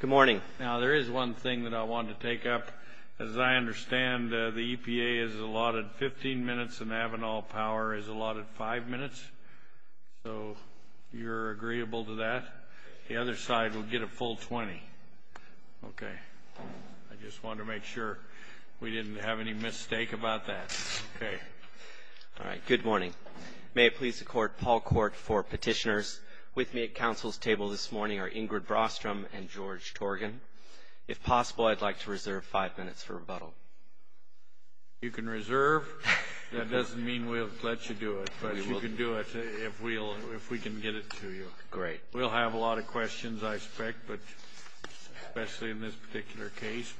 Good morning. Now there is one thing that I want to take up. As I understand, the EPA is allotted 15 minutes and Avenal Power is allotted five minutes. So you're agreeable to that. The other side will get a full 20. Okay. I just want to make sure we didn't have any mistake about that. Okay. All right. Good morning. May it please the court, Paul Court for petitioners. With me at council's table this morning are Ingrid Brostrom and George Torgan. If possible, I'd like to reserve five minutes for rebuttal. You can reserve. That doesn't mean we'll let you do it, but you can do it if we can get it to you. Great. We'll have a lot of questions, I expect, but especially in this particular case.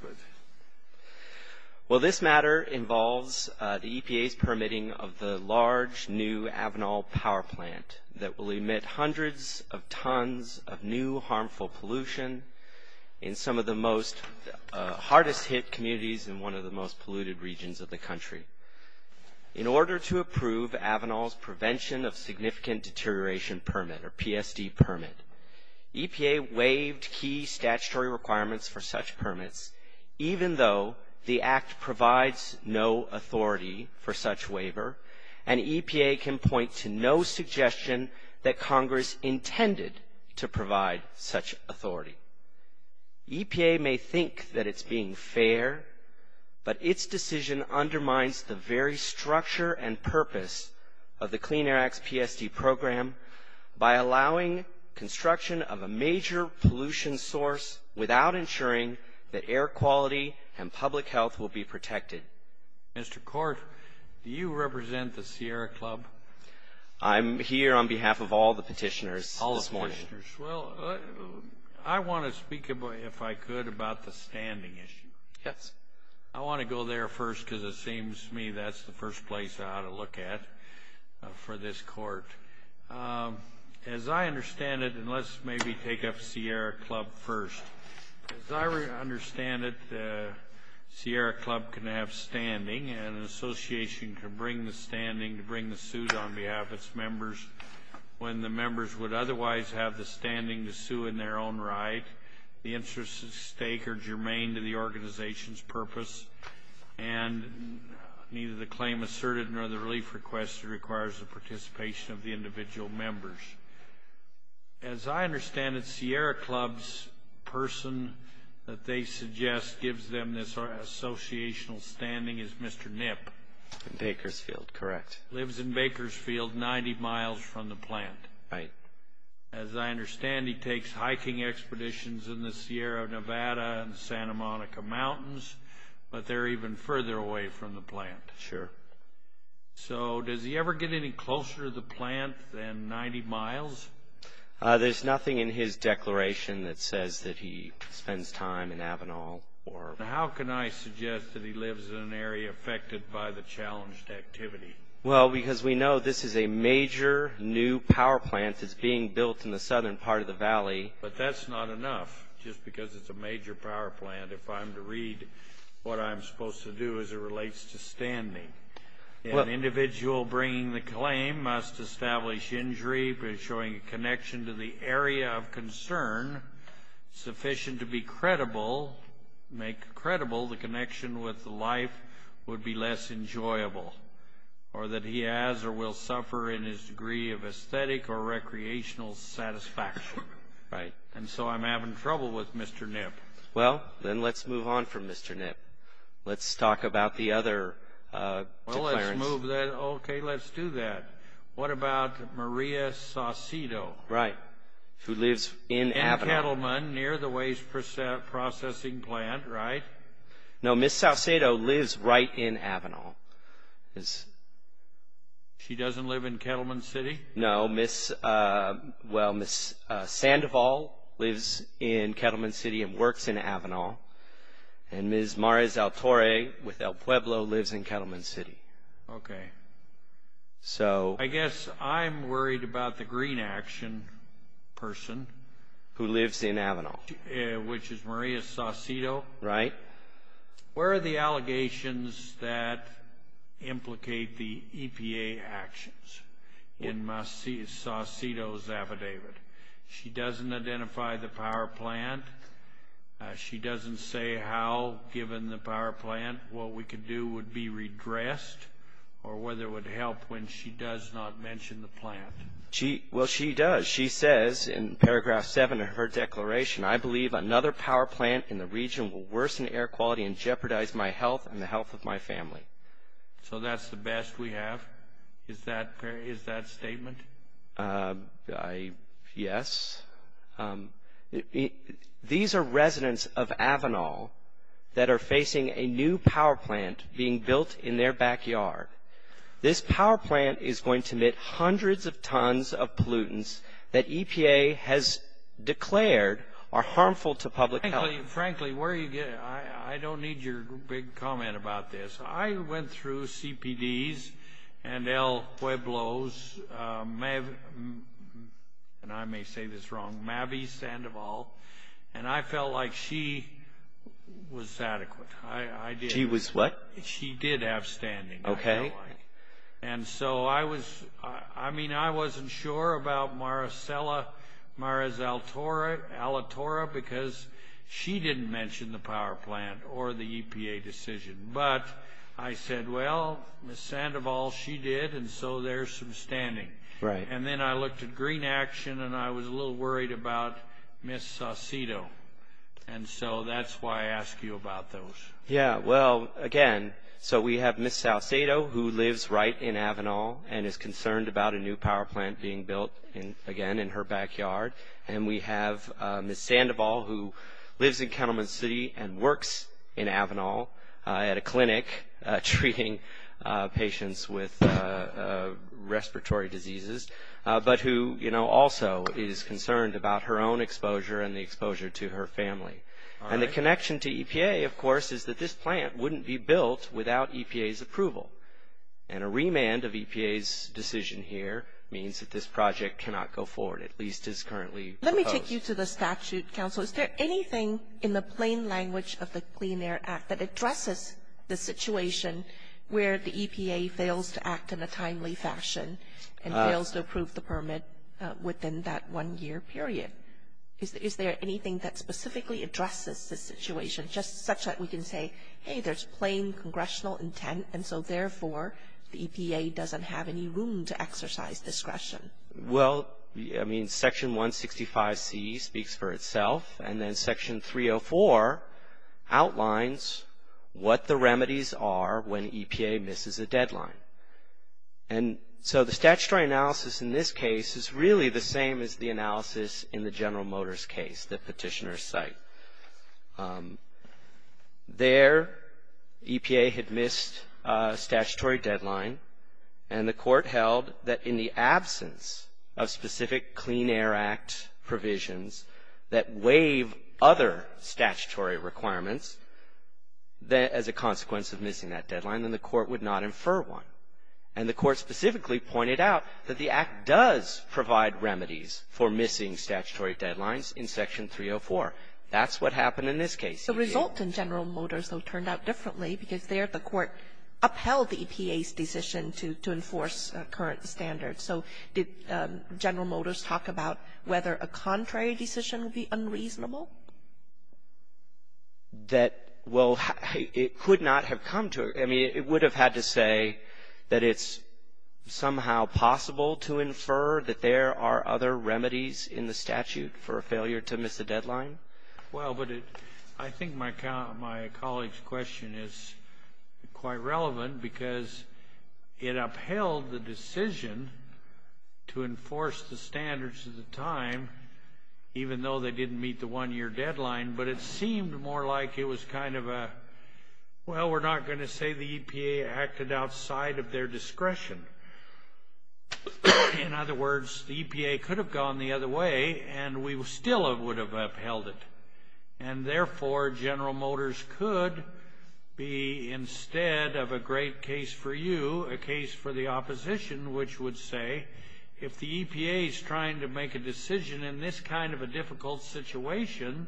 Well, this matter involves the EPA's permitting of the large new Avenal Power Plant that will hundreds of tons of new harmful pollution in some of the most hardest hit communities in one of the most polluted regions of the country. In order to approve Avenal's Prevention of Significant Deterioration Permit, or PSD permit, EPA waived key statutory requirements for such permits, even though the act provides no authority for such waiver, and EPA can point to no suggestion that Congress intended to provide such authority. EPA may think that it's being fair, but its decision undermines the very structure and purpose of the Clean Air Act's PSD program by allowing construction of a major pollution source without ensuring that air quality and public health will be protected. Mr. Court, do you represent the Sierra Club? I'm here on behalf of all the petitioners this morning. I want to speak, if I could, about the standing issue. Yes. I want to go there first because it seems to me that's the first place I ought to look at for this Court. As I understand it, and let's maybe Sierra Club can have standing and an association can bring the standing to bring the suit on behalf of its members when the members would otherwise have the standing to sue in their own right. The interests at stake are germane to the organization's purpose, and neither the claim asserted nor the relief request requires the participation of the individual members. As I understand it, Sierra Club's person that they suggest gives them this associational standing is Mr. Nip. Bakersfield, correct. Lives in Bakersfield, 90 miles from the plant. Right. As I understand, he takes hiking expeditions in the Sierra Nevada and Santa Monica Mountains, but they're even further away from the plant. Sure. So does he ever get any closer to the plant than 90 miles? There's nothing in his record that suggests that he lives in an area affected by the challenged activity. Well, because we know this is a major new power plant that's being built in the southern part of the valley. But that's not enough. Just because it's a major power plant, if I'm to read what I'm supposed to do as it relates to standing. An individual bringing the claim must establish injury by showing a connection to the area of concern sufficient to be credible, make credible the connection with the life would be less enjoyable, or that he has or will suffer in his degree of aesthetic or recreational satisfaction. Right. And so I'm having trouble with Mr. Nip. Well, then let's move on from Mr. Nip. Let's talk about the other. Okay, let's do that. What about Maria Saucedo? Right. Who No, Ms. Saucedo lives right in Avenal. She doesn't live in Kettleman City? No, Ms. Well, Ms. Sandoval lives in Kettleman City and works in Avenal. And Ms. Mares Altore with El Pueblo lives in Kettleman City. Okay. So I guess I'm worried about the green action person who lives in Avenal, which is Maria Saucedo. Right. Where are the allegations that implicate the EPA actions in Ms. Saucedo's affidavit? She doesn't identify the power plant. She doesn't say how, given the power plant, what we could do would be redressed or whether it would help when she does not mention the plant. Well, she does. She says in region will worsen air quality and jeopardize my health and the health of my family. So that's the best we have? Is that statement? Yes. These are residents of Avenal that are facing a new power plant being built in their backyard. This power plant is going to emit hundreds of tons of pollutants that frankly, where you get it, I don't need your big comment about this. I went through CPDs and El Pueblo's, and I may say this wrong, Mavie Sandoval. And I felt like she was adequate. She was what? She did have standing. Okay. And so I was, I mean, I wasn't sure about Maricela, Maris Alatorra, because she didn't mention the power plant or the EPA decision. But I said, well, Ms. Sandoval, she did. And so there's some standing. Right. And then I looked at Green Action, and I was a little worried about Ms. Saucedo. And so that's why I asked you about those. Yeah, well, again, so we have Ms. Saucedo, who lives right in Avenal and is concerned about a new power plant being built, again, in her backyard. And we have Ms. Sandoval, who lives in Kettleman City and works in Avenal at a clinic treating patients with respiratory diseases, but who also is concerned about her own exposure and the exposure to her family. And the connection to EPA, of course, is that this plant wouldn't be built without EPA's demand of EPA's decision here means that this project cannot go forward, at least as currently proposed. Let me take you to the statute, counsel. Is there anything in the plain language of the Clean Air Act that addresses the situation where the EPA fails to act in a timely fashion and fails to approve the permit within that one year period? Is there anything that specifically addresses this situation, just such that we can say, hey, there's plain congressional intent, and so, therefore, the EPA doesn't have any room to exercise discretion? Well, I mean, Section 165C speaks for itself, and then Section 304 outlines what the remedies are when EPA misses a deadline. And so, the statutory analysis in this case is really the same as the analysis in the case where the EPA had missed a statutory deadline, and the court held that in the absence of specific Clean Air Act provisions that waive other statutory requirements as a consequence of missing that deadline, then the court would not infer one. And the court specifically pointed out that the Act does provide remedies for missing statutory deadlines in Section 304. That's what happened in this case. The result in General Motors, though, turned out differently, because there the court upheld the EPA's decision to enforce current standards. So did General Motors talk about whether a contrary decision would be unreasonable? That, well, it could not have come to it. I mean, it would have had to say that it's somehow possible to infer that there are other remedies in the statute for a failure to miss a deadline. Well, but I think my colleague's question is quite relevant, because it upheld the decision to enforce the standards of the time, even though they didn't meet the one-year deadline. But it seemed more like it was kind of a, well, we're not going to say the EPA acted outside of their discretion. In other words, the EPA could have gone the other way, and we still would have upheld it. And therefore, General Motors could be, instead of a great case for you, a case for the opposition, which would say, if the EPA is trying to make a decision in this kind of a difficult situation,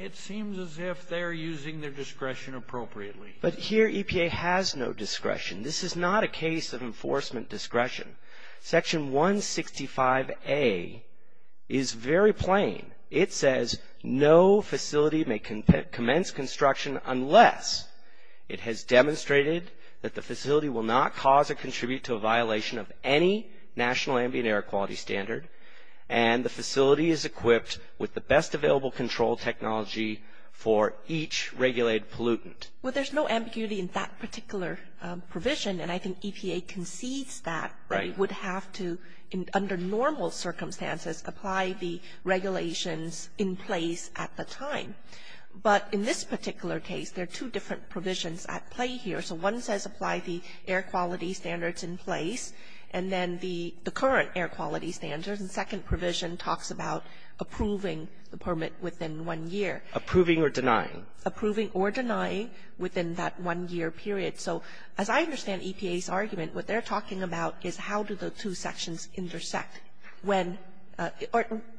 it seems as if they're using their discretion appropriately. But here, EPA has no discretion. This is not a case of enforcement discretion. Section 165A is very plain. It says, no facility may commence construction unless it has demonstrated that the facility will not cause or contribute to a violation of any national ambient air quality standard, and the facility is equipped with the best available control technology for each regulated pollutant. Well, there's no ambiguity in that particular provision, and I think EPA concedes that they would have to, under normal circumstances, apply the regulations in place at the time. But in this particular case, there are two different provisions at play here. So one says apply the air quality standards in place, and then the current air quality standards, and the second provision talks about approving the permit within one year. Approving or denying. Approving or denying within that one-year period. So as I understand EPA's argument, what they're talking about is how do the two sections intersect when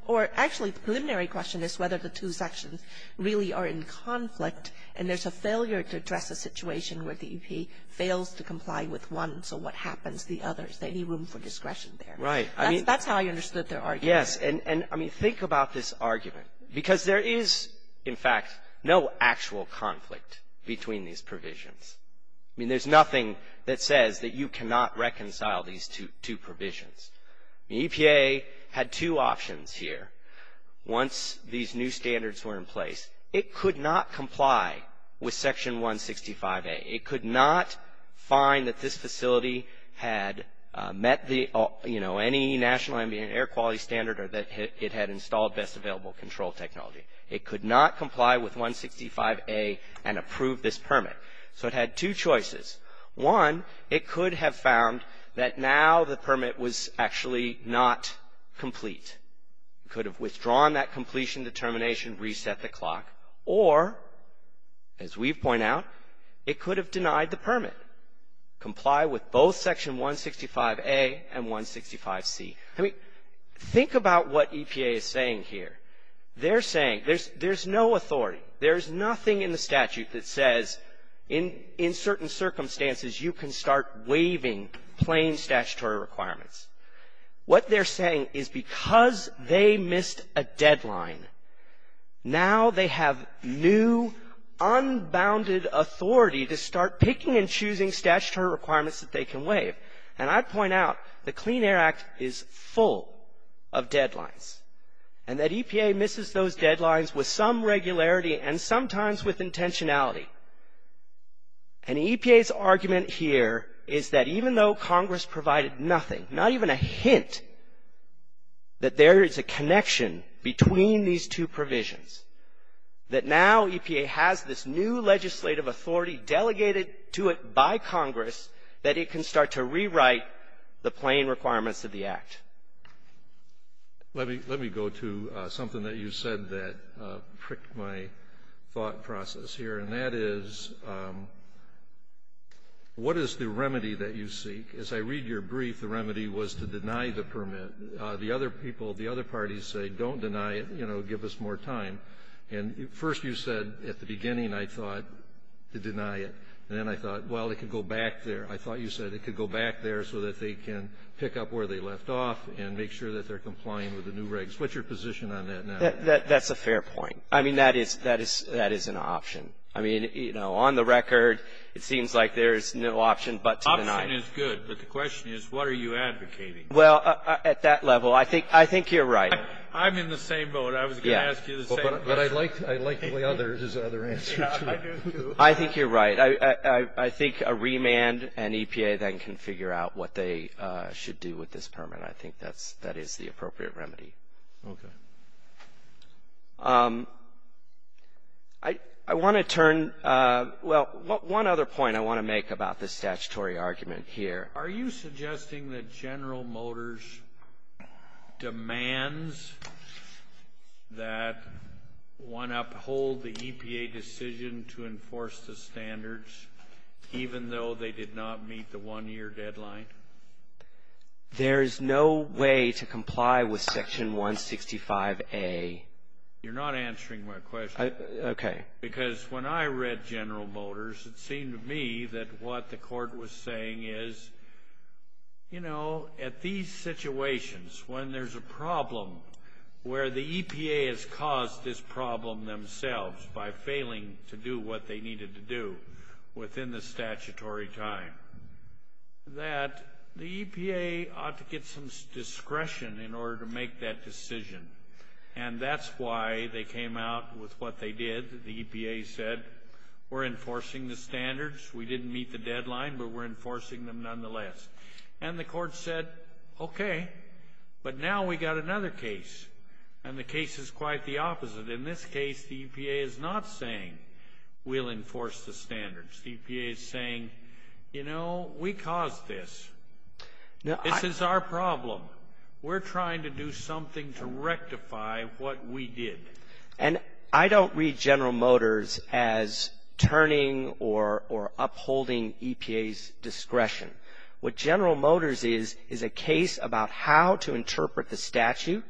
or actually the preliminary question is whether the two sections really are in conflict, and there's a failure to address a situation where the EPA fails to comply with one, so what happens to the other? Is there any room for discretion there? Right. I mean, that's how I understood their argument. Yes. And I mean, think about this argument, because there is, in fact, no actual conflict between these provisions. I mean, there's nothing that says that you cannot reconcile these two provisions. The EPA had two options here. Once these new standards were in place, it could not comply with Section 165A. It could not find that this facility had met any national ambient air quality standard or that it had installed best available control technology. It could not comply with 165A and approve this permit. So it had two choices. One, it could have found that now the permit was actually not complete. It could have withdrawn that completion determination, reset the clock. Or, as we've pointed out, it could have denied the permit. Comply with both Section 165A and 165C. I mean, think about what EPA is saying here. They're saying there's no authority. There's nothing in the statute that says, in certain circumstances, you can start waiving plain statutory requirements. What they're saying is because they missed a deadline, now they have new, unbounded authority to start picking and choosing statutory requirements that they can waive. And I'd point out the Clean Air Act is full of deadlines. And that EPA misses those deadlines with some regularity and sometimes with intentionality. And EPA's argument here is that even though Congress provided nothing, not even a hint, that there is a connection between these two provisions. That now EPA has this new legislative authority delegated to it by Congress that it can start to rewrite the plain requirements of the Act. Let me go to something that you said that pricked my thought process here. And that is, what is the remedy that you seek? As I read your brief, the remedy was to deny the permit. The other people, the other parties say, don't deny it, you know, give us more time. And first you said, at the beginning, I thought, to deny it. And then I thought, well, it could go back there. I thought you said it could go back there so that they can pick up where they left off and make sure that they're complying with the new regs. What's your position on that now? That's a fair point. I mean, that is an option. I mean, you know, on the record, it seems like there's no option but to deny it. Option is good. But the question is, what are you advocating? Well, at that level, I think you're right. I'm in the same boat. I was going to ask you the same. But I'd like the other answers. I think you're right. I think a remand and EPA then can figure out what they should do with this permit. I think that is the appropriate remedy. Okay. I want to turn, well, one other point I want to make about the statutory argument here. Are you suggesting that General Motors demands that one uphold the EPA decision to enforce the standards even though they did not meet the one-year deadline? There is no way to comply with Section 165A. You're not answering my question. Okay. Because when I read General Motors, it seemed to me that what the court was saying is, you know, at these situations when there's a problem where the EPA has caused this problem themselves by failing to do what they needed to do within the EPA, the EPA ought to get some discretion in order to make that decision. And that's why they came out with what they did. The EPA said, we're enforcing the standards. We didn't meet the deadline, but we're enforcing them nonetheless. And the court said, okay, but now we got another case. And the case is quite the opposite. In this case, the EPA is not saying we'll enforce the standards. The EPA is saying, you know, we caused this. This is our problem. We're trying to do something to rectify what we did. And I don't read General Motors as turning or upholding EPA's discretion. What General Motors is, is a case about how to interpret the statute,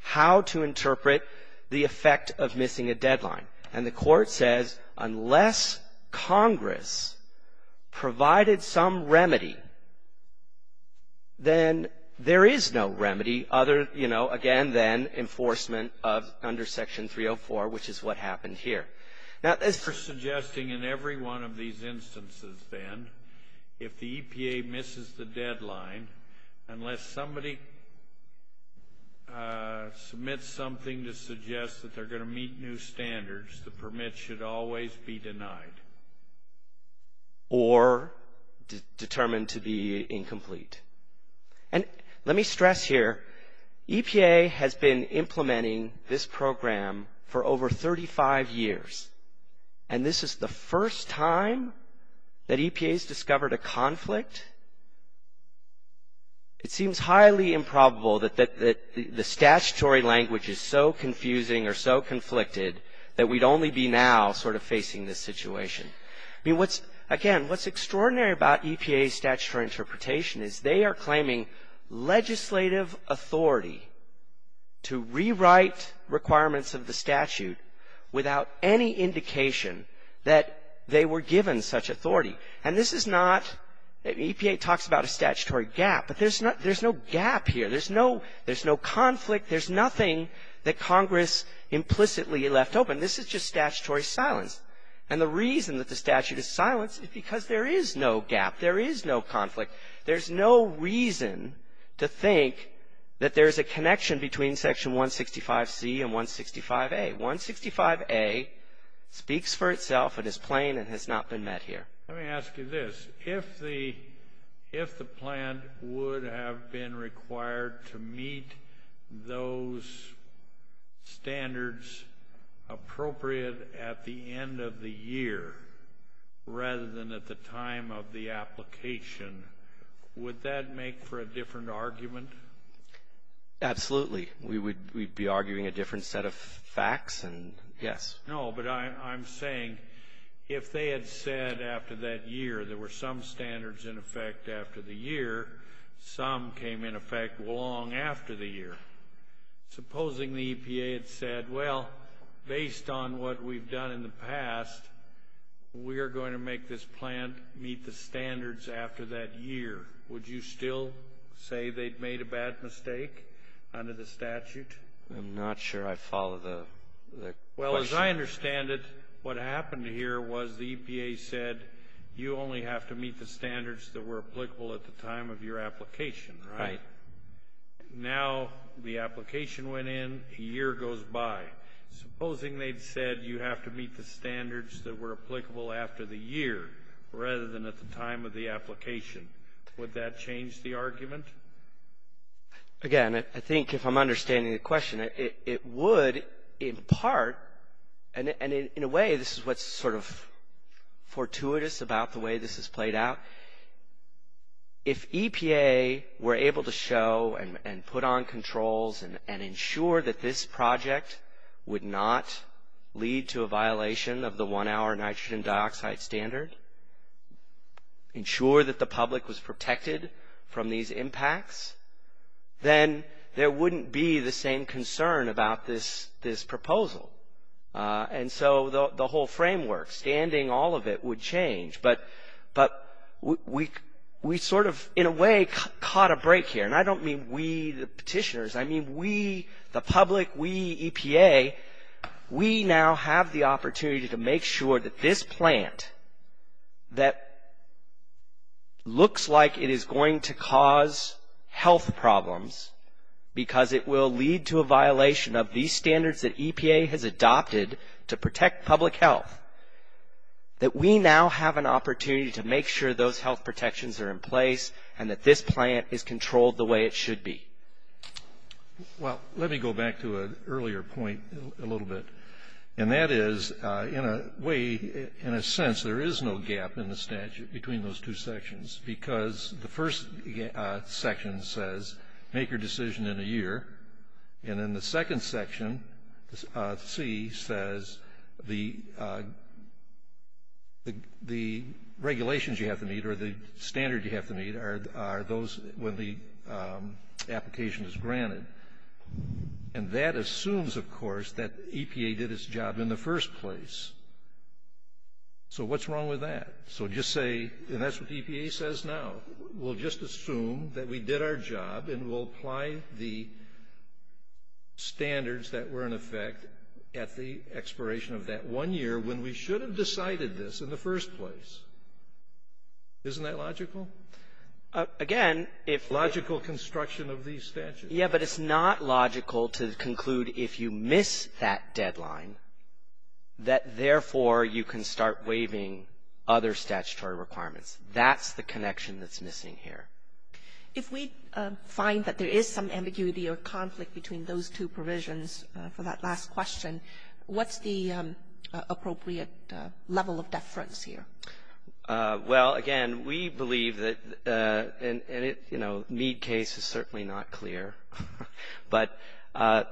how to interpret the effect of missing a deadline. And the court says, unless Congress provided some remedy, then there is no remedy other, you know, again, then enforcement of under Section 304, which is what happened here. Now, as for suggesting in every one of these instances then, if the EPA misses the deadline, unless somebody submits something to suggest that they're going to meet new standards, the permit should always be denied. Or determined to be incomplete. And let me stress here, EPA has been implementing this program for over 35 years, and this is the first time that EPA has discovered a conflict? It seems highly improbable that the statutory language is so confusing or so conflicted that we'd only be now sort of facing this situation. I mean, what's, again, what's extraordinary about EPA's statutory interpretation is they are claiming legislative authority to rewrite requirements of the statute without any indication that they were given such authority. And this is not, EPA talks about a statutory gap, but there's no gap here. There's no conflict. There's nothing that Congress implicitly left open. This is just statutory silence. And the reason that the statute is silence is because there is no gap. There is no conflict. There's no reason to think that there's a connection between Section 165C and 165A. 165A speaks for itself and is plain and has not been met here. Let me ask you this. If the plan would have been required to meet those standards appropriate at the end of the year rather than at the time of the application, would that make for a different argument? Absolutely. We'd be arguing a different set of facts, and yes. No, but I'm saying if they had said after that year there were some standards in effect after the year, some came in effect long after the year. Supposing the EPA had said, well, based on what we've done in the past, we are going to make this plan meet the standards after that year, would you still say they'd made a bad mistake under the statute? I'm not sure I follow the question. Well, as I understand it, what happened here was the EPA said you only have to meet the standards that were applicable at the time of your application, right? Now the application went in, a year goes by. Supposing they'd said you have to meet the standards that were applicable after the year rather than at the time of the application, would that change the argument? Again, I think if I'm understanding the question, it would in part, and in a way this is what's sort of fortuitous about the way this has played out. If EPA were able to show and put on controls and ensure that this project would not lead to a violation of the one-hour nitrogen dioxide standard, ensure that the public was protected from these impacts, then there wouldn't be the same concern about this proposal. And so the whole framework, standing all of it would change. But we sort of, in a way, caught a break here. And I don't mean we, the petitioners, I mean we, the public, we, EPA, we now have the opportunity to make sure that this plant that looks like it is going to cause health problems because it will lead to a violation of these standards that EPA has adopted to protect public health, that we now have an opportunity to make sure those health protections are in place and that this plant is controlled the way it should be. Well, let me go back to an earlier point a little bit. And that is, in a way, in a sense, there is no gap in the statute between those two sections because the first section says, make your decision in a year. And in the second section, C, says the regulations you have to meet or the application is granted. And that assumes, of course, that EPA did its job in the first place. So what's wrong with that? So just say, and that's what EPA says now, we'll just assume that we did our job and we'll apply the standards that were in effect at the expiration of that one year when we should have decided this in the first place. Isn't that logical? Again, if the ---- It's logical construction of these statutes. Yes, but it's not logical to conclude if you miss that deadline that, therefore, you can start waiving other statutory requirements. That's the connection that's missing here. If we find that there is some ambiguity or conflict between those two provisions for that last question, what's the appropriate level of deference here? Well, again, we believe that, and it, you know, Mead case is certainly not clear. But,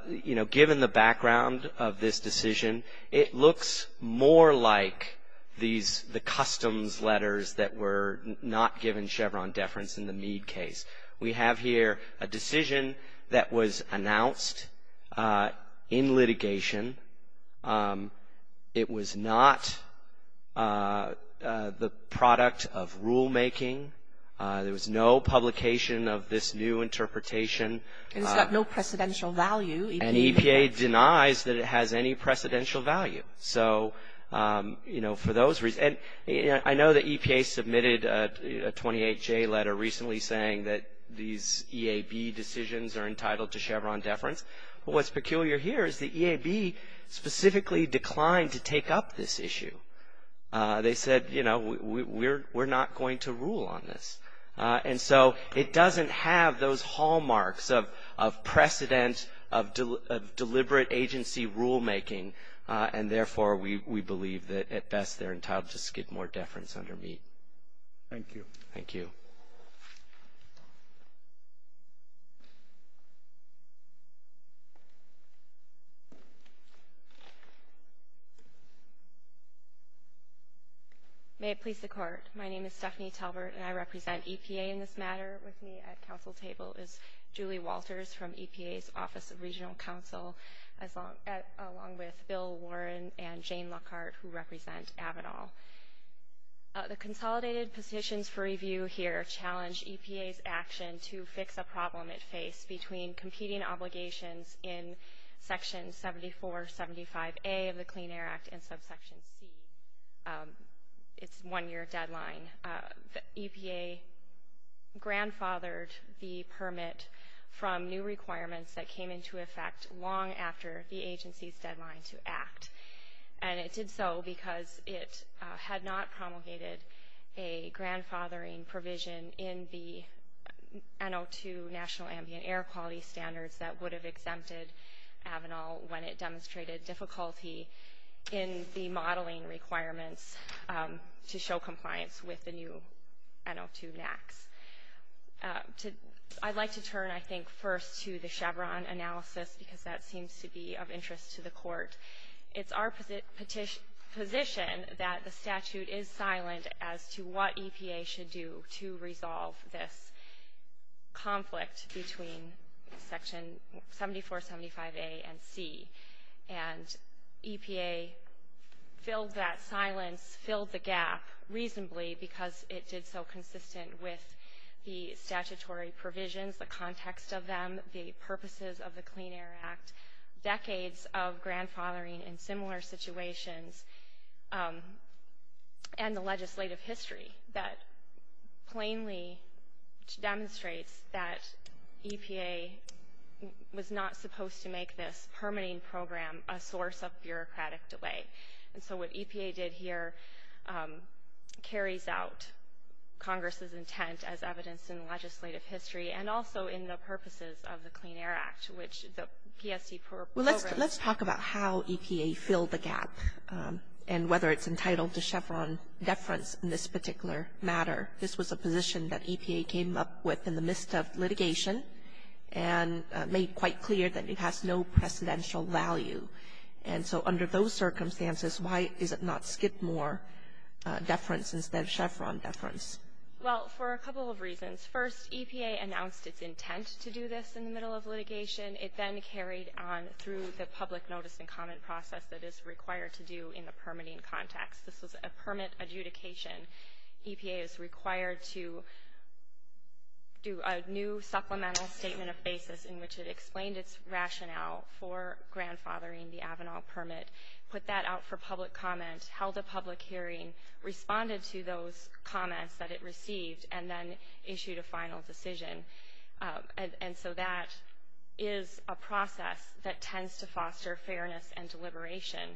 you know, given the background of this decision, it looks more like these, the customs letters that were not given Chevron deference in the Mead case. We have here a decision that was announced in litigation. It was not the product of rulemaking. There was no publication of this new interpretation. And it's got no precedential value. And EPA denies that it has any precedential value. So, you know, for those reasons, and I know that EPA submitted a 28-J letter recently saying that these EAB decisions are entitled to Chevron deference. What's peculiar here is the EAB specifically declined to take up this issue. They said, you know, we're not going to rule on this. And so, it doesn't have those hallmarks of precedent, of deliberate agency rulemaking. And, therefore, we believe that, at best, they're entitled to skid more deference under Mead. Thank you. Thank you. May it please the Court. My name is Stephanie Talbert, and I represent EPA in this matter. With me at counsel table is Julie Walters from EPA's Office of Regional Counsel, along with Bill Warren and Jane Lockhart, who represent Avedal. The consolidated positions for review here challenge EPA's action to fix a problem it faced between competing obligations in Section 7475A of the Clean Air Act and Subsection C. It's a one-year deadline. EPA grandfathered the permit from new requirements that came into effect long after the agency's deadline to act. And it did so because it had not promulgated a grandfathering provision in the NO2 National Ambient Air Quality Standards that would have exempted Avedal when it demonstrated difficulty in the modeling requirements to show compliance with the new NO2 NAAQS. I'd like to turn, I think, first to the Chevron analysis, because that seems to be of interest to the Court. It's our position that the statute is silent as to what EPA should do to resolve this conflict between Section 7475A and C. And EPA filled that silence, filled the gap reasonably because it did so consistent with the statutory provisions, the context of them, the purposes of the Clean Air Act. Decades of grandfathering in similar situations and the legislative history that plainly demonstrates that EPA was not supposed to make this permitting program a source of bureaucratic delay. And so what EPA did here carries out Congress's intent as evidenced in legislative history and also in the purposes of the Clean Air Act, which the PSC program. Well, let's talk about how EPA filled the gap and whether it's entitled to Chevron deference in this particular matter. This was a position that EPA came up with in the midst of litigation and made quite clear that it has no precedential value. And so under those circumstances, why is it not Skidmore deference instead of Chevron deference? Well, for a couple of reasons. First, EPA announced its intent to do this in the middle of litigation. It then carried on through the public notice and comment process that is required to do in the permitting context. This was a permit adjudication. EPA is required to do a new supplemental statement of basis in which it explained its rationale for grandfathering the Avanal permit, put that out for public comment, held a public hearing, responded to those comments that it received, and then issued a final decision. And so that is a process that tends to foster fairness and deliberation.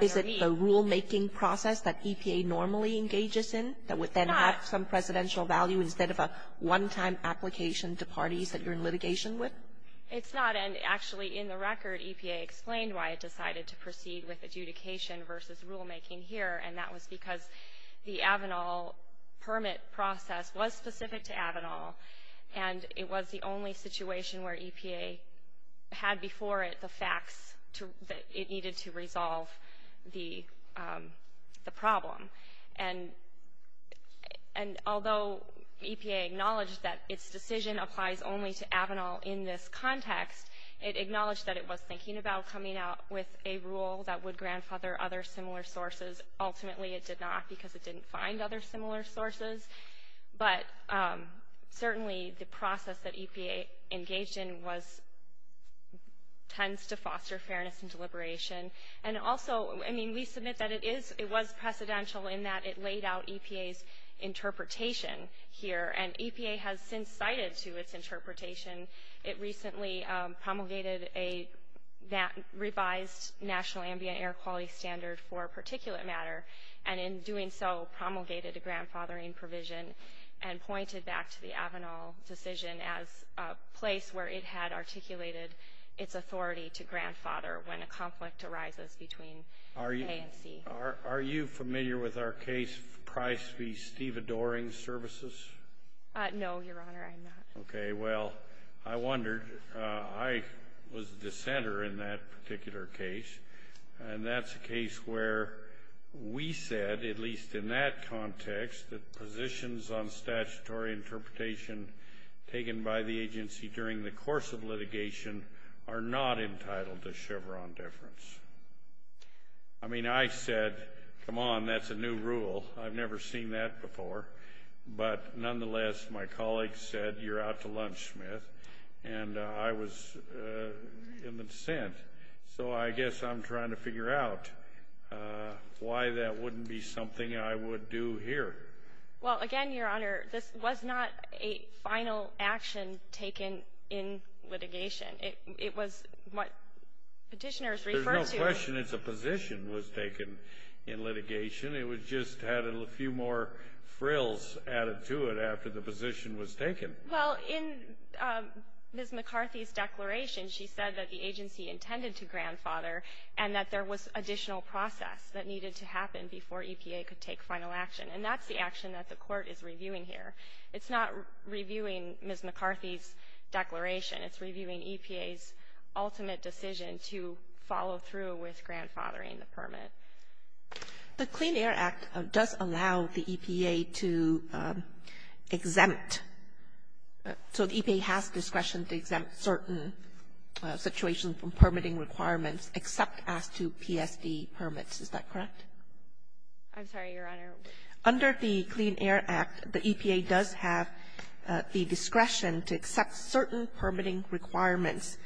Is it a rulemaking process that EPA normally engages in that would then have some presidential value instead of a one-time application to parties that you're in litigation with? It's not. And actually, in the record, EPA explained why it decided to proceed with adjudication versus rulemaking here. And that was because the Avanal permit process was specific to Avanal. And it was the only situation where EPA had before it the facts that it needed to resolve the problem. And although EPA acknowledged that its decision applies only to Avanal in this context, it acknowledged that it was thinking about coming out with a rule that would grandfather other similar sources. Ultimately, it did not because it didn't find other similar sources. But certainly, the process that EPA engaged in tends to foster fairness and deliberation. And also, I mean, we submit that it was precedential in that it laid out EPA's interpretation here. And EPA has since cited to its interpretation. It recently promulgated a revised National Ambient Air Quality Standard for particulate matter. And in doing so, promulgated a grandfathering provision and pointed back to the Avanal decision as a place where it had articulated its authority to grandfather when a conflict arises between A and C. Are you familiar with our case, Price v. Steve Adoring Services? No, Your Honor, I'm not. Okay, well, I wondered. I was the dissenter in that particular case. And that's a case where we said, at least in that context, that positions on statutory interpretation taken by the agency during the course of litigation are not entitled to Chevron deference. I mean, I said, come on, that's a new rule. I've never seen that before. But nonetheless, my colleague said, you're out to lunch, Smith. And I was in the dissent. So I guess I'm trying to figure out why that wouldn't be something I would do here. Well, again, Your Honor, this was not a final action taken in litigation. It was what petitioners referred to. There's no question it's a position was taken in litigation. It was just had a few more frills added to it after the position was taken. Well, in Ms. McCarthy's declaration, she said that the agency intended to grandfather and that there was additional process that needed to happen before EPA could take final action. And that's the action that the Court is reviewing here. It's not reviewing Ms. McCarthy's declaration. It's reviewing EPA's ultimate decision to follow through with grandfathering the permit. The Clean Air Act does allow the EPA to exempt. So the EPA has discretion to exempt certain situations from permitting requirements except as to PSD permits. Is that correct? I'm sorry, Your Honor. Under the Clean Air Act, the EPA does have the discretion to accept certain permitting requirements,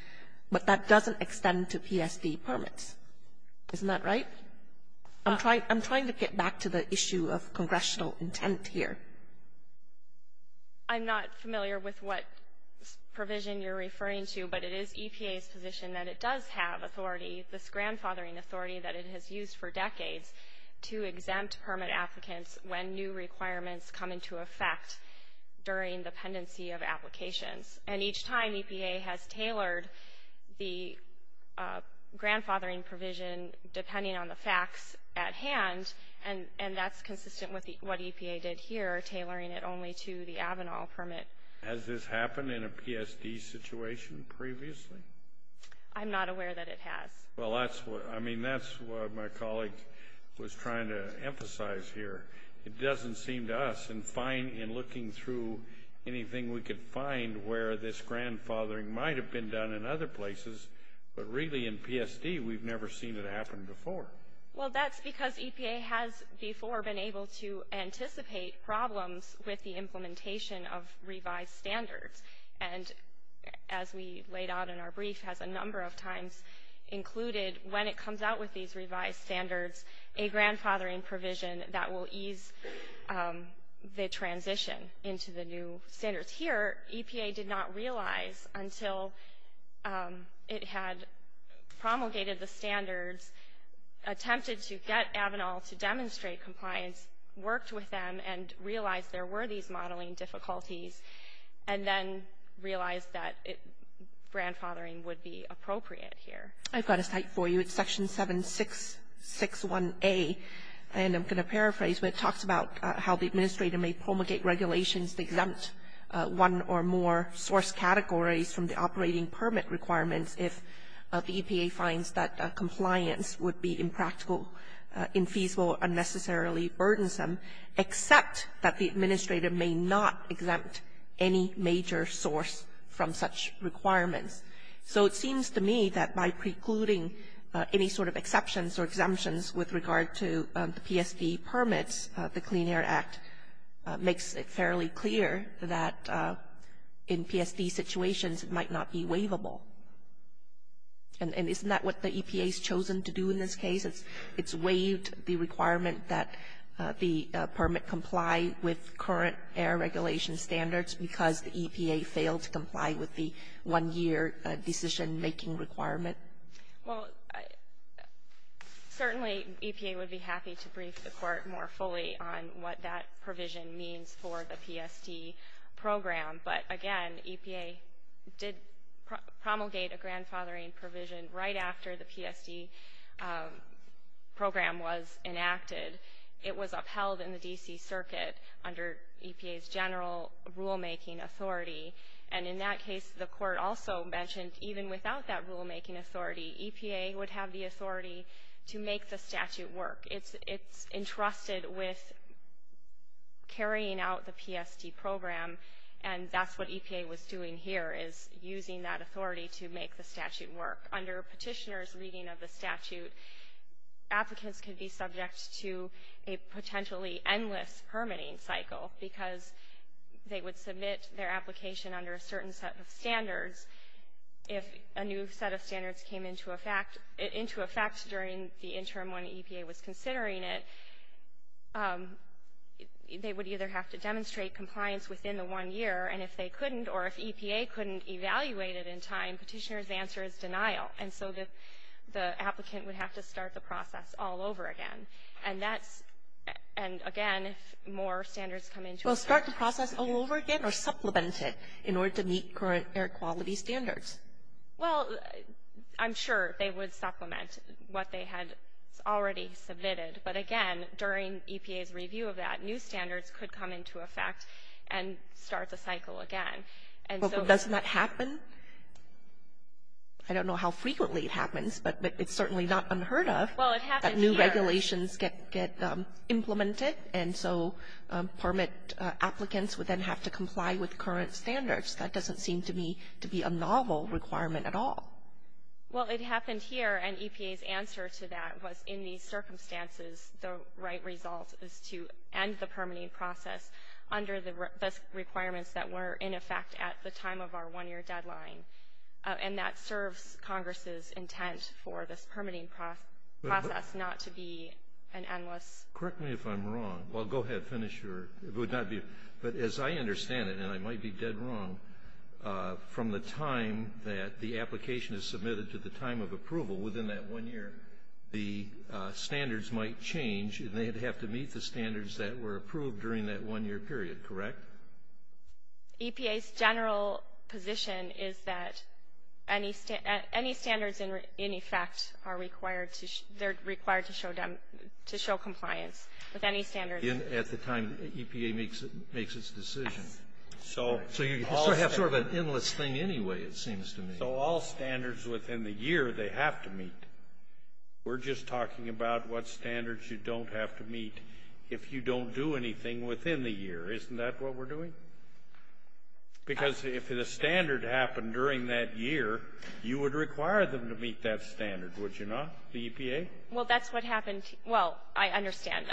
but that doesn't extend to PSD permits. Isn't that right? I'm trying to get back to the issue of congressional intent here. I'm not familiar with what provision you're referring to, but it is EPA's position that it does have authority, this grandfathering authority that it has used for decades to exempt permit applicants when new requirements come into effect during the pendency of applications. And each time, EPA has tailored the grandfathering provision depending on the facts at hand, and that's consistent with what EPA did here, tailoring it only to the Avinall permit. Has this happened in a PSD situation previously? I'm not aware that it has. Well, I mean, that's what my colleague was trying to emphasize here. It doesn't seem to us, in looking through anything we could find where this grandfathering might have been done in other places, but really in PSD, we've never seen it happen before. Well, that's because EPA has before been able to anticipate problems with the implementation of revised standards. And as we laid out in our brief, has a number of times included when it comes out with these the transition into the new standards. Here, EPA did not realize until it had promulgated the standards, attempted to get Avinall to demonstrate compliance, worked with them, and realized there were these modeling difficulties, and then realized that grandfathering would be appropriate here. I've got a site for you. It's Section 7661A. And I'm going to paraphrase. But it talks about how the administrator may promulgate regulations to exempt one or more source categories from the operating permit requirements if the EPA finds that compliance would be impractical, infeasible, unnecessarily burdensome, except that the administrator may not exempt any major source from such requirements. So it seems to me that by precluding any sort of exceptions or exemptions with regard to the PSD permits, the Clean Air Act makes it fairly clear that in PSD situations, it might not be waivable. And isn't that what the EPA's chosen to do in this case? It's waived the requirement that the permit comply with current air regulation standards because the EPA failed to comply with the one-year decision-making requirement? Well, certainly EPA would be happy to brief the Court more fully on what that provision means for the PSD program. But again, EPA did promulgate a grandfathering provision right after the PSD program was enacted. It was upheld in the D.C. Circuit under EPA's general rulemaking authority. And in that case, the Court also mentioned even without that rulemaking authority, EPA would have the authority to make the statute work. It's entrusted with carrying out the PSD program, and that's what EPA was doing here, is using that authority to make the statute work. Under Petitioner's reading of the statute, applicants could be subject to a potentially endless permitting cycle because they would submit their application under a certain set of standards. If a new set of standards came into effect during the interim when EPA was considering it, they would either have to demonstrate compliance within the one year, and if they And so the applicant would have to start the process all over again. And that's – and again, if more standards come into effect – Well, start the process all over again or supplement it in order to meet current air quality standards? Well, I'm sure they would supplement what they had already submitted. But again, during EPA's review of that, new standards could come into effect and start the cycle again. And so – Well, but doesn't that happen? I don't know how frequently it happens, but it's certainly not unheard of that new regulations get implemented, and so permit applicants would then have to comply with current standards. That doesn't seem to me to be a novel requirement at all. Well, it happened here, and EPA's answer to that was in these circumstances, the right result is to end the permitting process under the requirements that were in effect at the one-year deadline. And that serves Congress's intent for this permitting process not to be an endless – Correct me if I'm wrong. Well, go ahead. Finish your – it would not be – but as I understand it, and I might be dead wrong, from the time that the application is submitted to the time of approval within that one year, the standards might change, and they'd have to meet the standards that were approved during that one-year period, correct? EPA's general position is that any standards in effect are required to – they're required to show – to show compliance with any standards. At the time EPA makes its decision. So you have sort of an endless thing anyway, it seems to me. So all standards within the year, they have to meet. We're just talking about what standards you don't have to meet if you don't do anything within the year. Isn't that what we're doing? Because if the standard happened during that year, you would require them to meet that standard, would you not, the EPA? Well, that's what happened – well, I understand,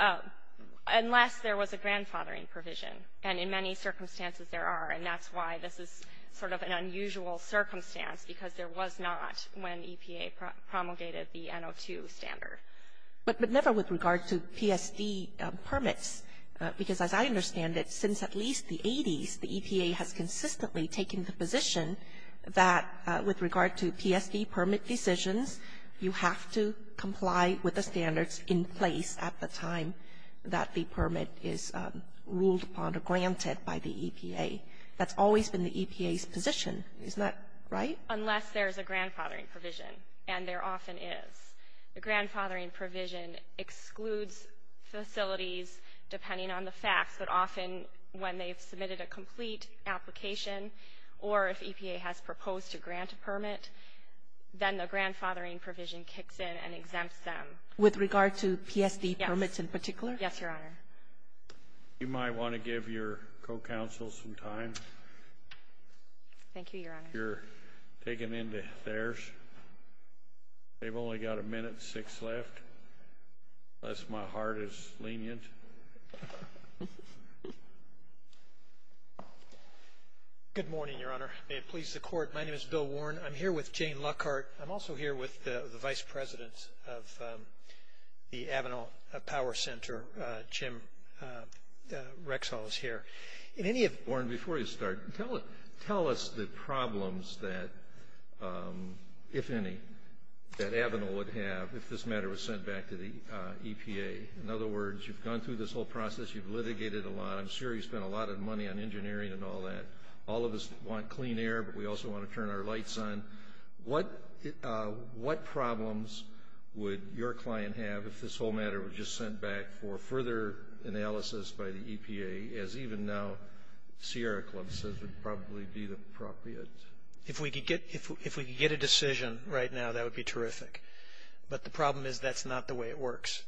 unless there was a grandfathering provision, and in many circumstances there are, and that's why this is sort of an unusual circumstance, because there was not when EPA promulgated the NO2 standard. But never with regard to PSD permits, because as I understand it, since at least the 80s, the EPA has consistently taken the position that with regard to PSD permit decisions, you have to comply with the standards in place at the time that the permit is ruled upon or granted by the EPA. That's always been the EPA's position, isn't that right? Unless there's a grandfathering provision, and there often is. The grandfathering provision excludes facilities, depending on the facts, but often when they've submitted a complete application or if EPA has proposed to grant a permit, then the grandfathering provision kicks in and exempts them. With regard to PSD permits in particular? Yes, Your Honor. You might want to give your co-counsel some time. Thank you, Your Honor. I think you're taken in to theirs. They've only got a minute and six left, lest my heart is lenient. Good morning, Your Honor. May it please the Court. My name is Bill Warren. I'm here with Jane Lockhart. I'm also here with the vice president of the Avenal Power Center, Jim Rexall is here. Warren, before you start, tell us the problems that, if any, that Avenal would have if this matter was sent back to the EPA. In other words, you've gone through this whole process, you've litigated a lot, I'm sure you've spent a lot of money on engineering and all that. All of us want clean air, but we also want to turn our lights on. What problems would your client have if this whole matter were just sent back for further analysis by the EPA, as even now Sierra Club says would probably be the appropriate? If we could get a decision right now, that would be terrific. But the problem is that's not the way it works.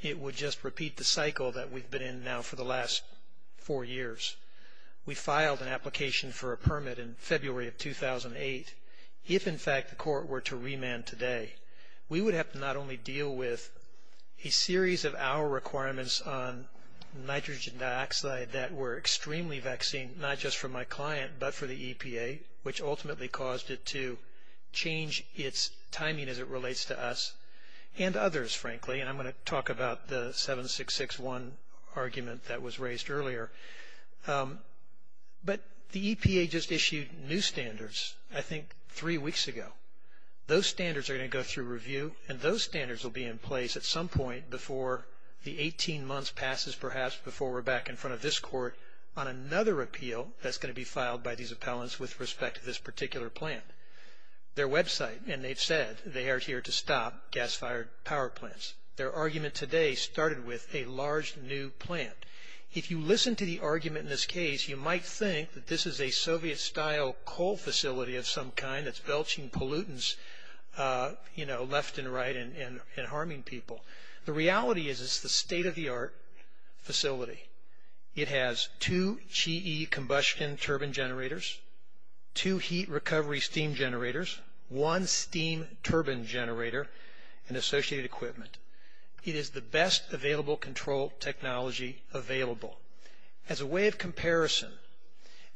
It would just repeat the cycle that we've been in now for the last four years. We filed an application for a permit in February of 2008. If in fact the court were to remand today, we would have to not only deal with a series of our requirements on nitrogen dioxide that were extremely vexing, not just for my client but for the EPA, which ultimately caused it to change its timing as it relates to us and others, frankly. And I'm going to talk about the 7661 argument that was raised earlier. But the EPA just issued new standards, I think three weeks ago. Those standards are going to go through review and those standards will be in place at some point before the 18 months passes perhaps before we're back in front of this court on another appeal that's going to be filed by these appellants with respect to this particular plant. Their website, and they've said they are here to stop gas-fired power plants. Their argument today started with a large new plant. If you listen to the argument in this case, you might think that this is a Soviet-style coal facility of some kind that's belching pollutants, you know, left and right and harming people. The reality is it's the state-of-the-art facility. It has two GE combustion turbine generators, two heat recovery steam generators, one steam turbine generator and associated equipment. It is the best available control technology available. As a way of comparison,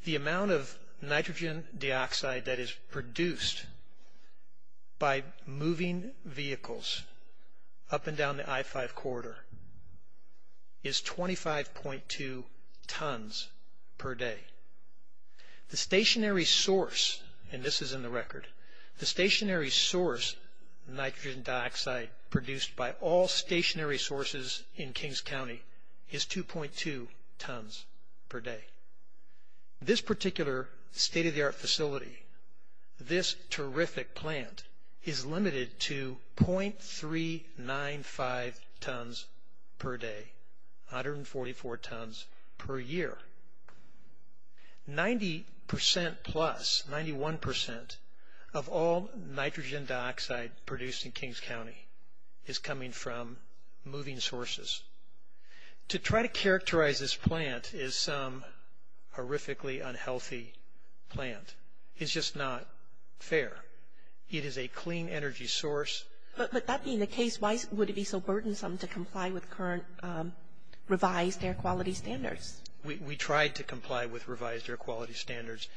the amount of nitrogen dioxide that is produced by moving vehicles up and down the I-5 corridor is 25.2 tons per day. The stationary source, and this is in the record, the stationary source nitrogen dioxide produced by all stationary sources in Kings County is 2.2 tons per day. This particular state-of-the-art facility, this terrific plant, is limited to .395 tons per day, 144 tons per year, 90% plus, 91% of all nitrogen dioxide produced in Kings County is coming from moving sources. To try to characterize this plant as some horrifically unhealthy plant is just not fair. It is a clean energy source. But that being the case, why would it be so burdensome to comply with current revised air quality standards? We tried to comply with revised air quality standards,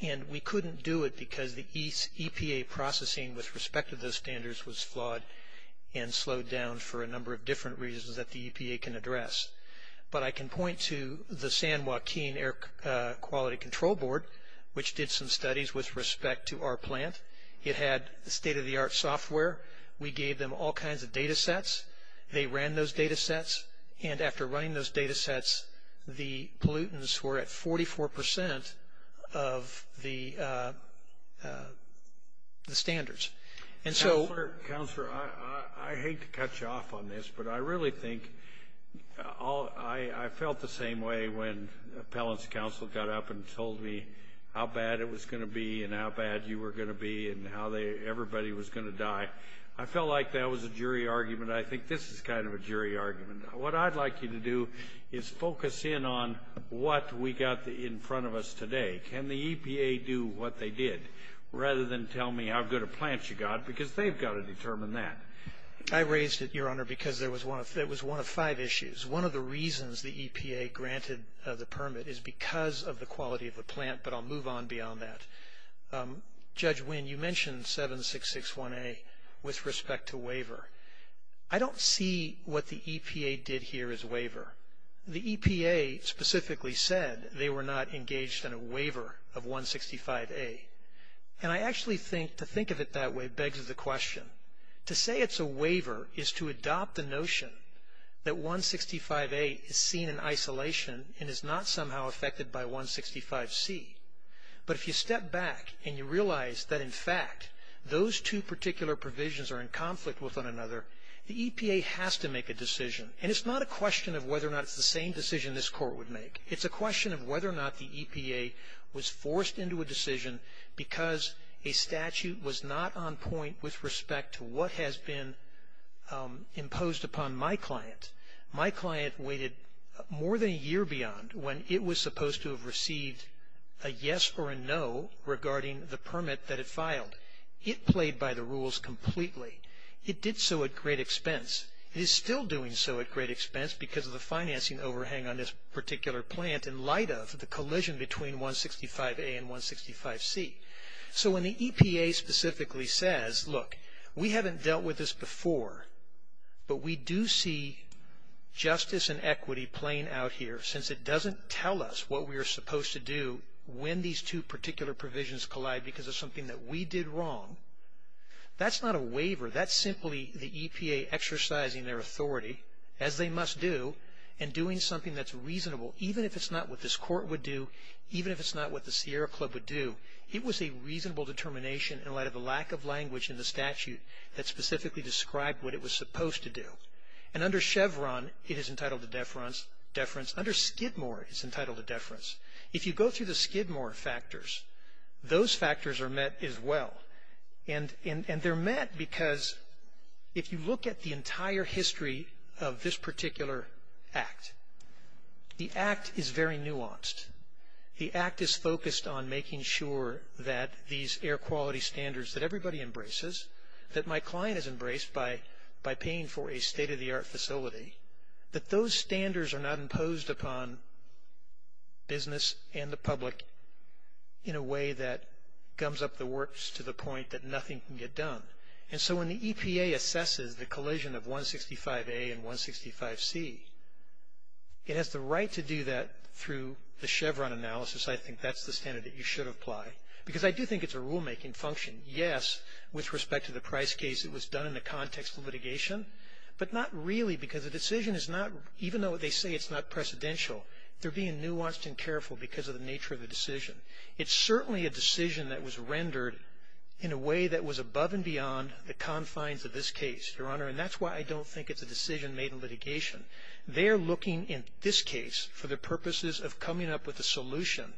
and we couldn't do it because the slowed down for a number of different reasons that the EPA can address. But I can point to the San Joaquin Air Quality Control Board, which did some studies with respect to our plant. It had state-of-the-art software. We gave them all kinds of data sets. They ran those data sets. And after running those data sets, the pollutants were at 44% of the standards. And so... Councillor, I hate to cut you off on this, but I really think I felt the same way when Appellants Council got up and told me how bad it was going to be, and how bad you were going to be, and how everybody was going to die. I felt like that was a jury argument. I think this is kind of a jury argument. What I'd like you to do is focus in on what we got in front of us today. Can the EPA do what they did, rather than tell me how good a plant you got? Because they've got to determine that. I raised it, Your Honor, because it was one of five issues. One of the reasons the EPA granted the permit is because of the quality of the plant, but I'll move on beyond that. Judge Wynn, you mentioned 7661A with respect to waiver. I don't see what the EPA did here as waiver. The EPA specifically said they were not engaged in a waiver of 165A. And I actually think to think of it that way begs the question. To say it's a waiver is to adopt the notion that 165A is seen in isolation and is not somehow affected by 165C. But if you step back and you realize that, in fact, those two particular provisions are in conflict with one another, the EPA has to make a decision, and it's not a question of whether or not it's the same decision this Court would make. It's a question of whether or not the EPA was forced into a decision because a statute was not on point with respect to what has been imposed upon my client. My client waited more than a year beyond when it was supposed to have received a yes or a no regarding the permit that it filed. It played by the rules completely. It did so at great expense. It is still doing so at great expense because of the financing overhang on this particular plant in light of the collision between 165A and 165C. So when the EPA specifically says, look, we haven't dealt with this before, but we do see justice and equity playing out here, since it doesn't tell us what we are supposed to do when these two particular provisions collide because of something that we did wrong. That's not a waiver. That's simply the EPA exercising their authority, as they must do, and doing something that's reasonable, even if it's not what this Court would do, even if it's not what the Sierra Club would do. It was a reasonable determination in light of the lack of language in the statute that specifically described what it was supposed to do. And under Chevron, it is entitled to deference. Under Skidmore, it's entitled to deference. If you go through the Skidmore factors, those factors are met as well. And they're met because if you look at the entire history of this particular Act, the Act is very nuanced. The Act is focused on making sure that these air quality standards that everybody embraces, that my client has embraced by paying for a state-of-the-art facility, that those standards are not imposed upon business and the public in a way that gums up the works to the point that nothing can get done. And so when the EPA assesses the collision of 165A and 165C, it has the right to do that through the Chevron analysis. I think that's the standard that you should apply because I do think it's a rulemaking function, yes, with respect to the price case, it was done in the context of litigation, but not really because the decision is not, even though they say it's not precedential, they're being nuanced and careful because of the nature of the decision. It's certainly a decision that was rendered in a way that was above and beyond the confines of this case, Your Honor, and that's why I don't think it's a decision made in litigation. They're looking in this case for the purposes of coming up with a solution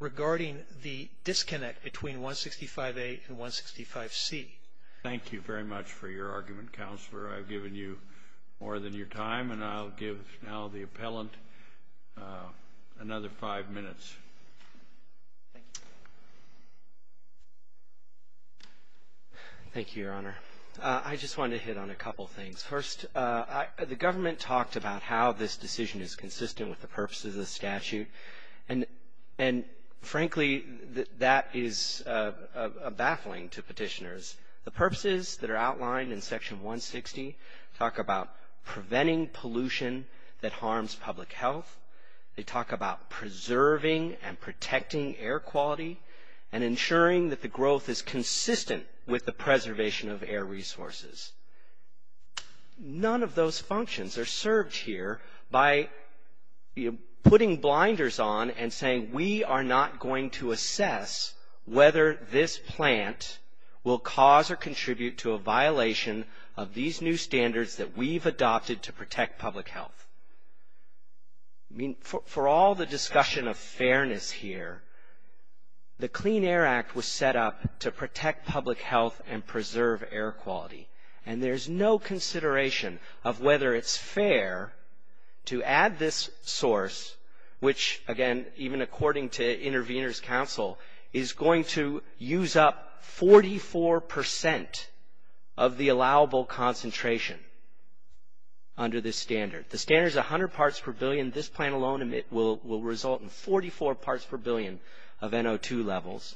regarding the disconnect between 165A and 165C. Thank you very much for your argument, Counselor. I've given you more than your time, and I'll give now the appellant another five minutes. Thank you, Your Honor. I just wanted to hit on a couple things. First, the government talked about how this decision is consistent with the purpose of the statute, and frankly, that is a baffling to petitioners. The purposes that are outlined in Section 160 talk about preventing pollution that harms public health. They talk about preserving and protecting air quality and ensuring that the growth is consistent with the preservation of air resources. None of those functions are served here by putting blinders on and saying, we are not going to assess whether this plant will cause or contribute to a violation of these new standards that we've adopted to protect public health. I mean, for all the discussion of fairness here, the Clean Air Act was set up to protect public health and preserve air quality, and there's no consideration of whether it's fair to add this source, which, again, even according to Intervenors' Counsel, is going to use up 44% of the allowable concentration under this standard. The standard is 100 parts per billion. This plant alone will result in 44 parts per billion of NO2 levels.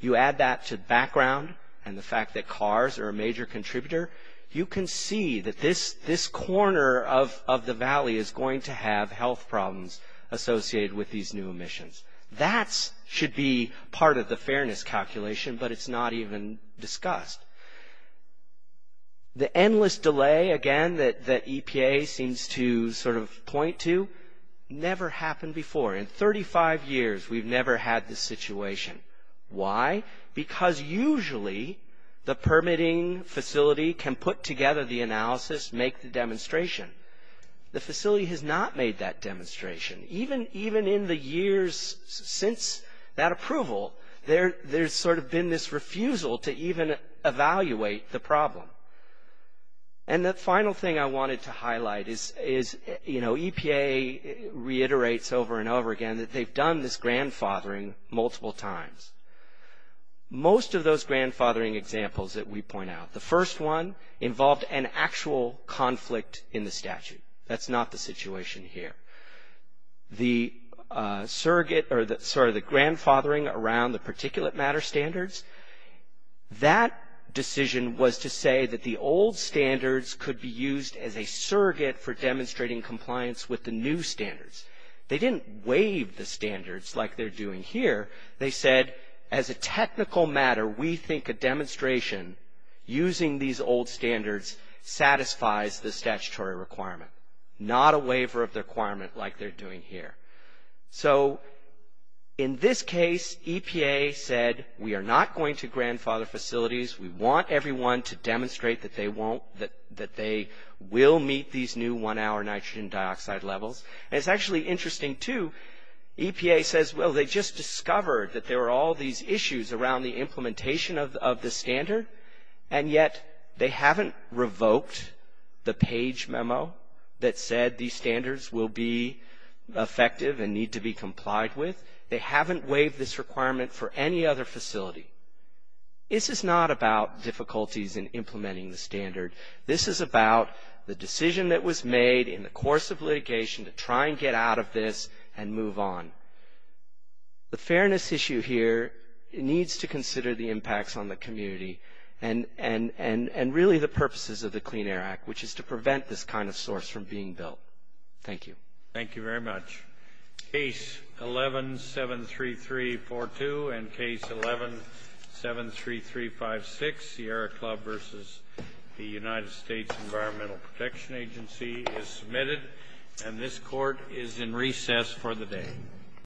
You add that to the background and the fact that cars are a major contributor, you can see that this corner of the valley is going to have health problems associated with these new emissions. That should be part of the fairness calculation, but it's not even discussed. The endless delay, again, that EPA seems to sort of point to, never happened before. In 35 years, we've never had this situation. Why? Because usually, the permitting facility can put together the analysis, make the demonstration. The facility has not made that demonstration. Even in the years since that approval, there's sort of been this refusal to even evaluate the problem. And the final thing I wanted to highlight is, you know, EPA reiterates over and over again that they've done this grandfathering multiple times. Most of those grandfathering examples that we point out, the first one involved an actual conflict in the statute. That's not the situation here. The surrogate or the grandfathering around the particulate matter standards, that decision was to say that the old standards could be used as a surrogate for demonstrating compliance with the new standards. They didn't waive the standards like they're doing here. They said, as a technical matter, we think a demonstration using these old standards satisfies the statutory requirement, not a waiver of the requirement like they're doing here. So, in this case, EPA said, we are not going to grandfather facilities. We want everyone to demonstrate that they will meet these new one-hour nitrogen dioxide levels. And it's actually interesting too, EPA says, well, they just discovered that there were all these issues around the implementation of the standard, and yet they haven't revoked the page memo that said these standards will be effective and need to be complied with. They haven't waived this requirement for any other facility. This is not about difficulties in implementing the standard. This is about the decision that was made in the course of litigation to try and get out of this and move on. The fairness issue here needs to consider the impacts on the community and really the purposes of the Clean Air Act, which is to prevent this kind of source from being built. Thank you. Thank you very much. Case 11-73342 and case 11-73356, Sierra Club versus the United States Environmental Protection Agency, is submitted, and this court is in recess for the day.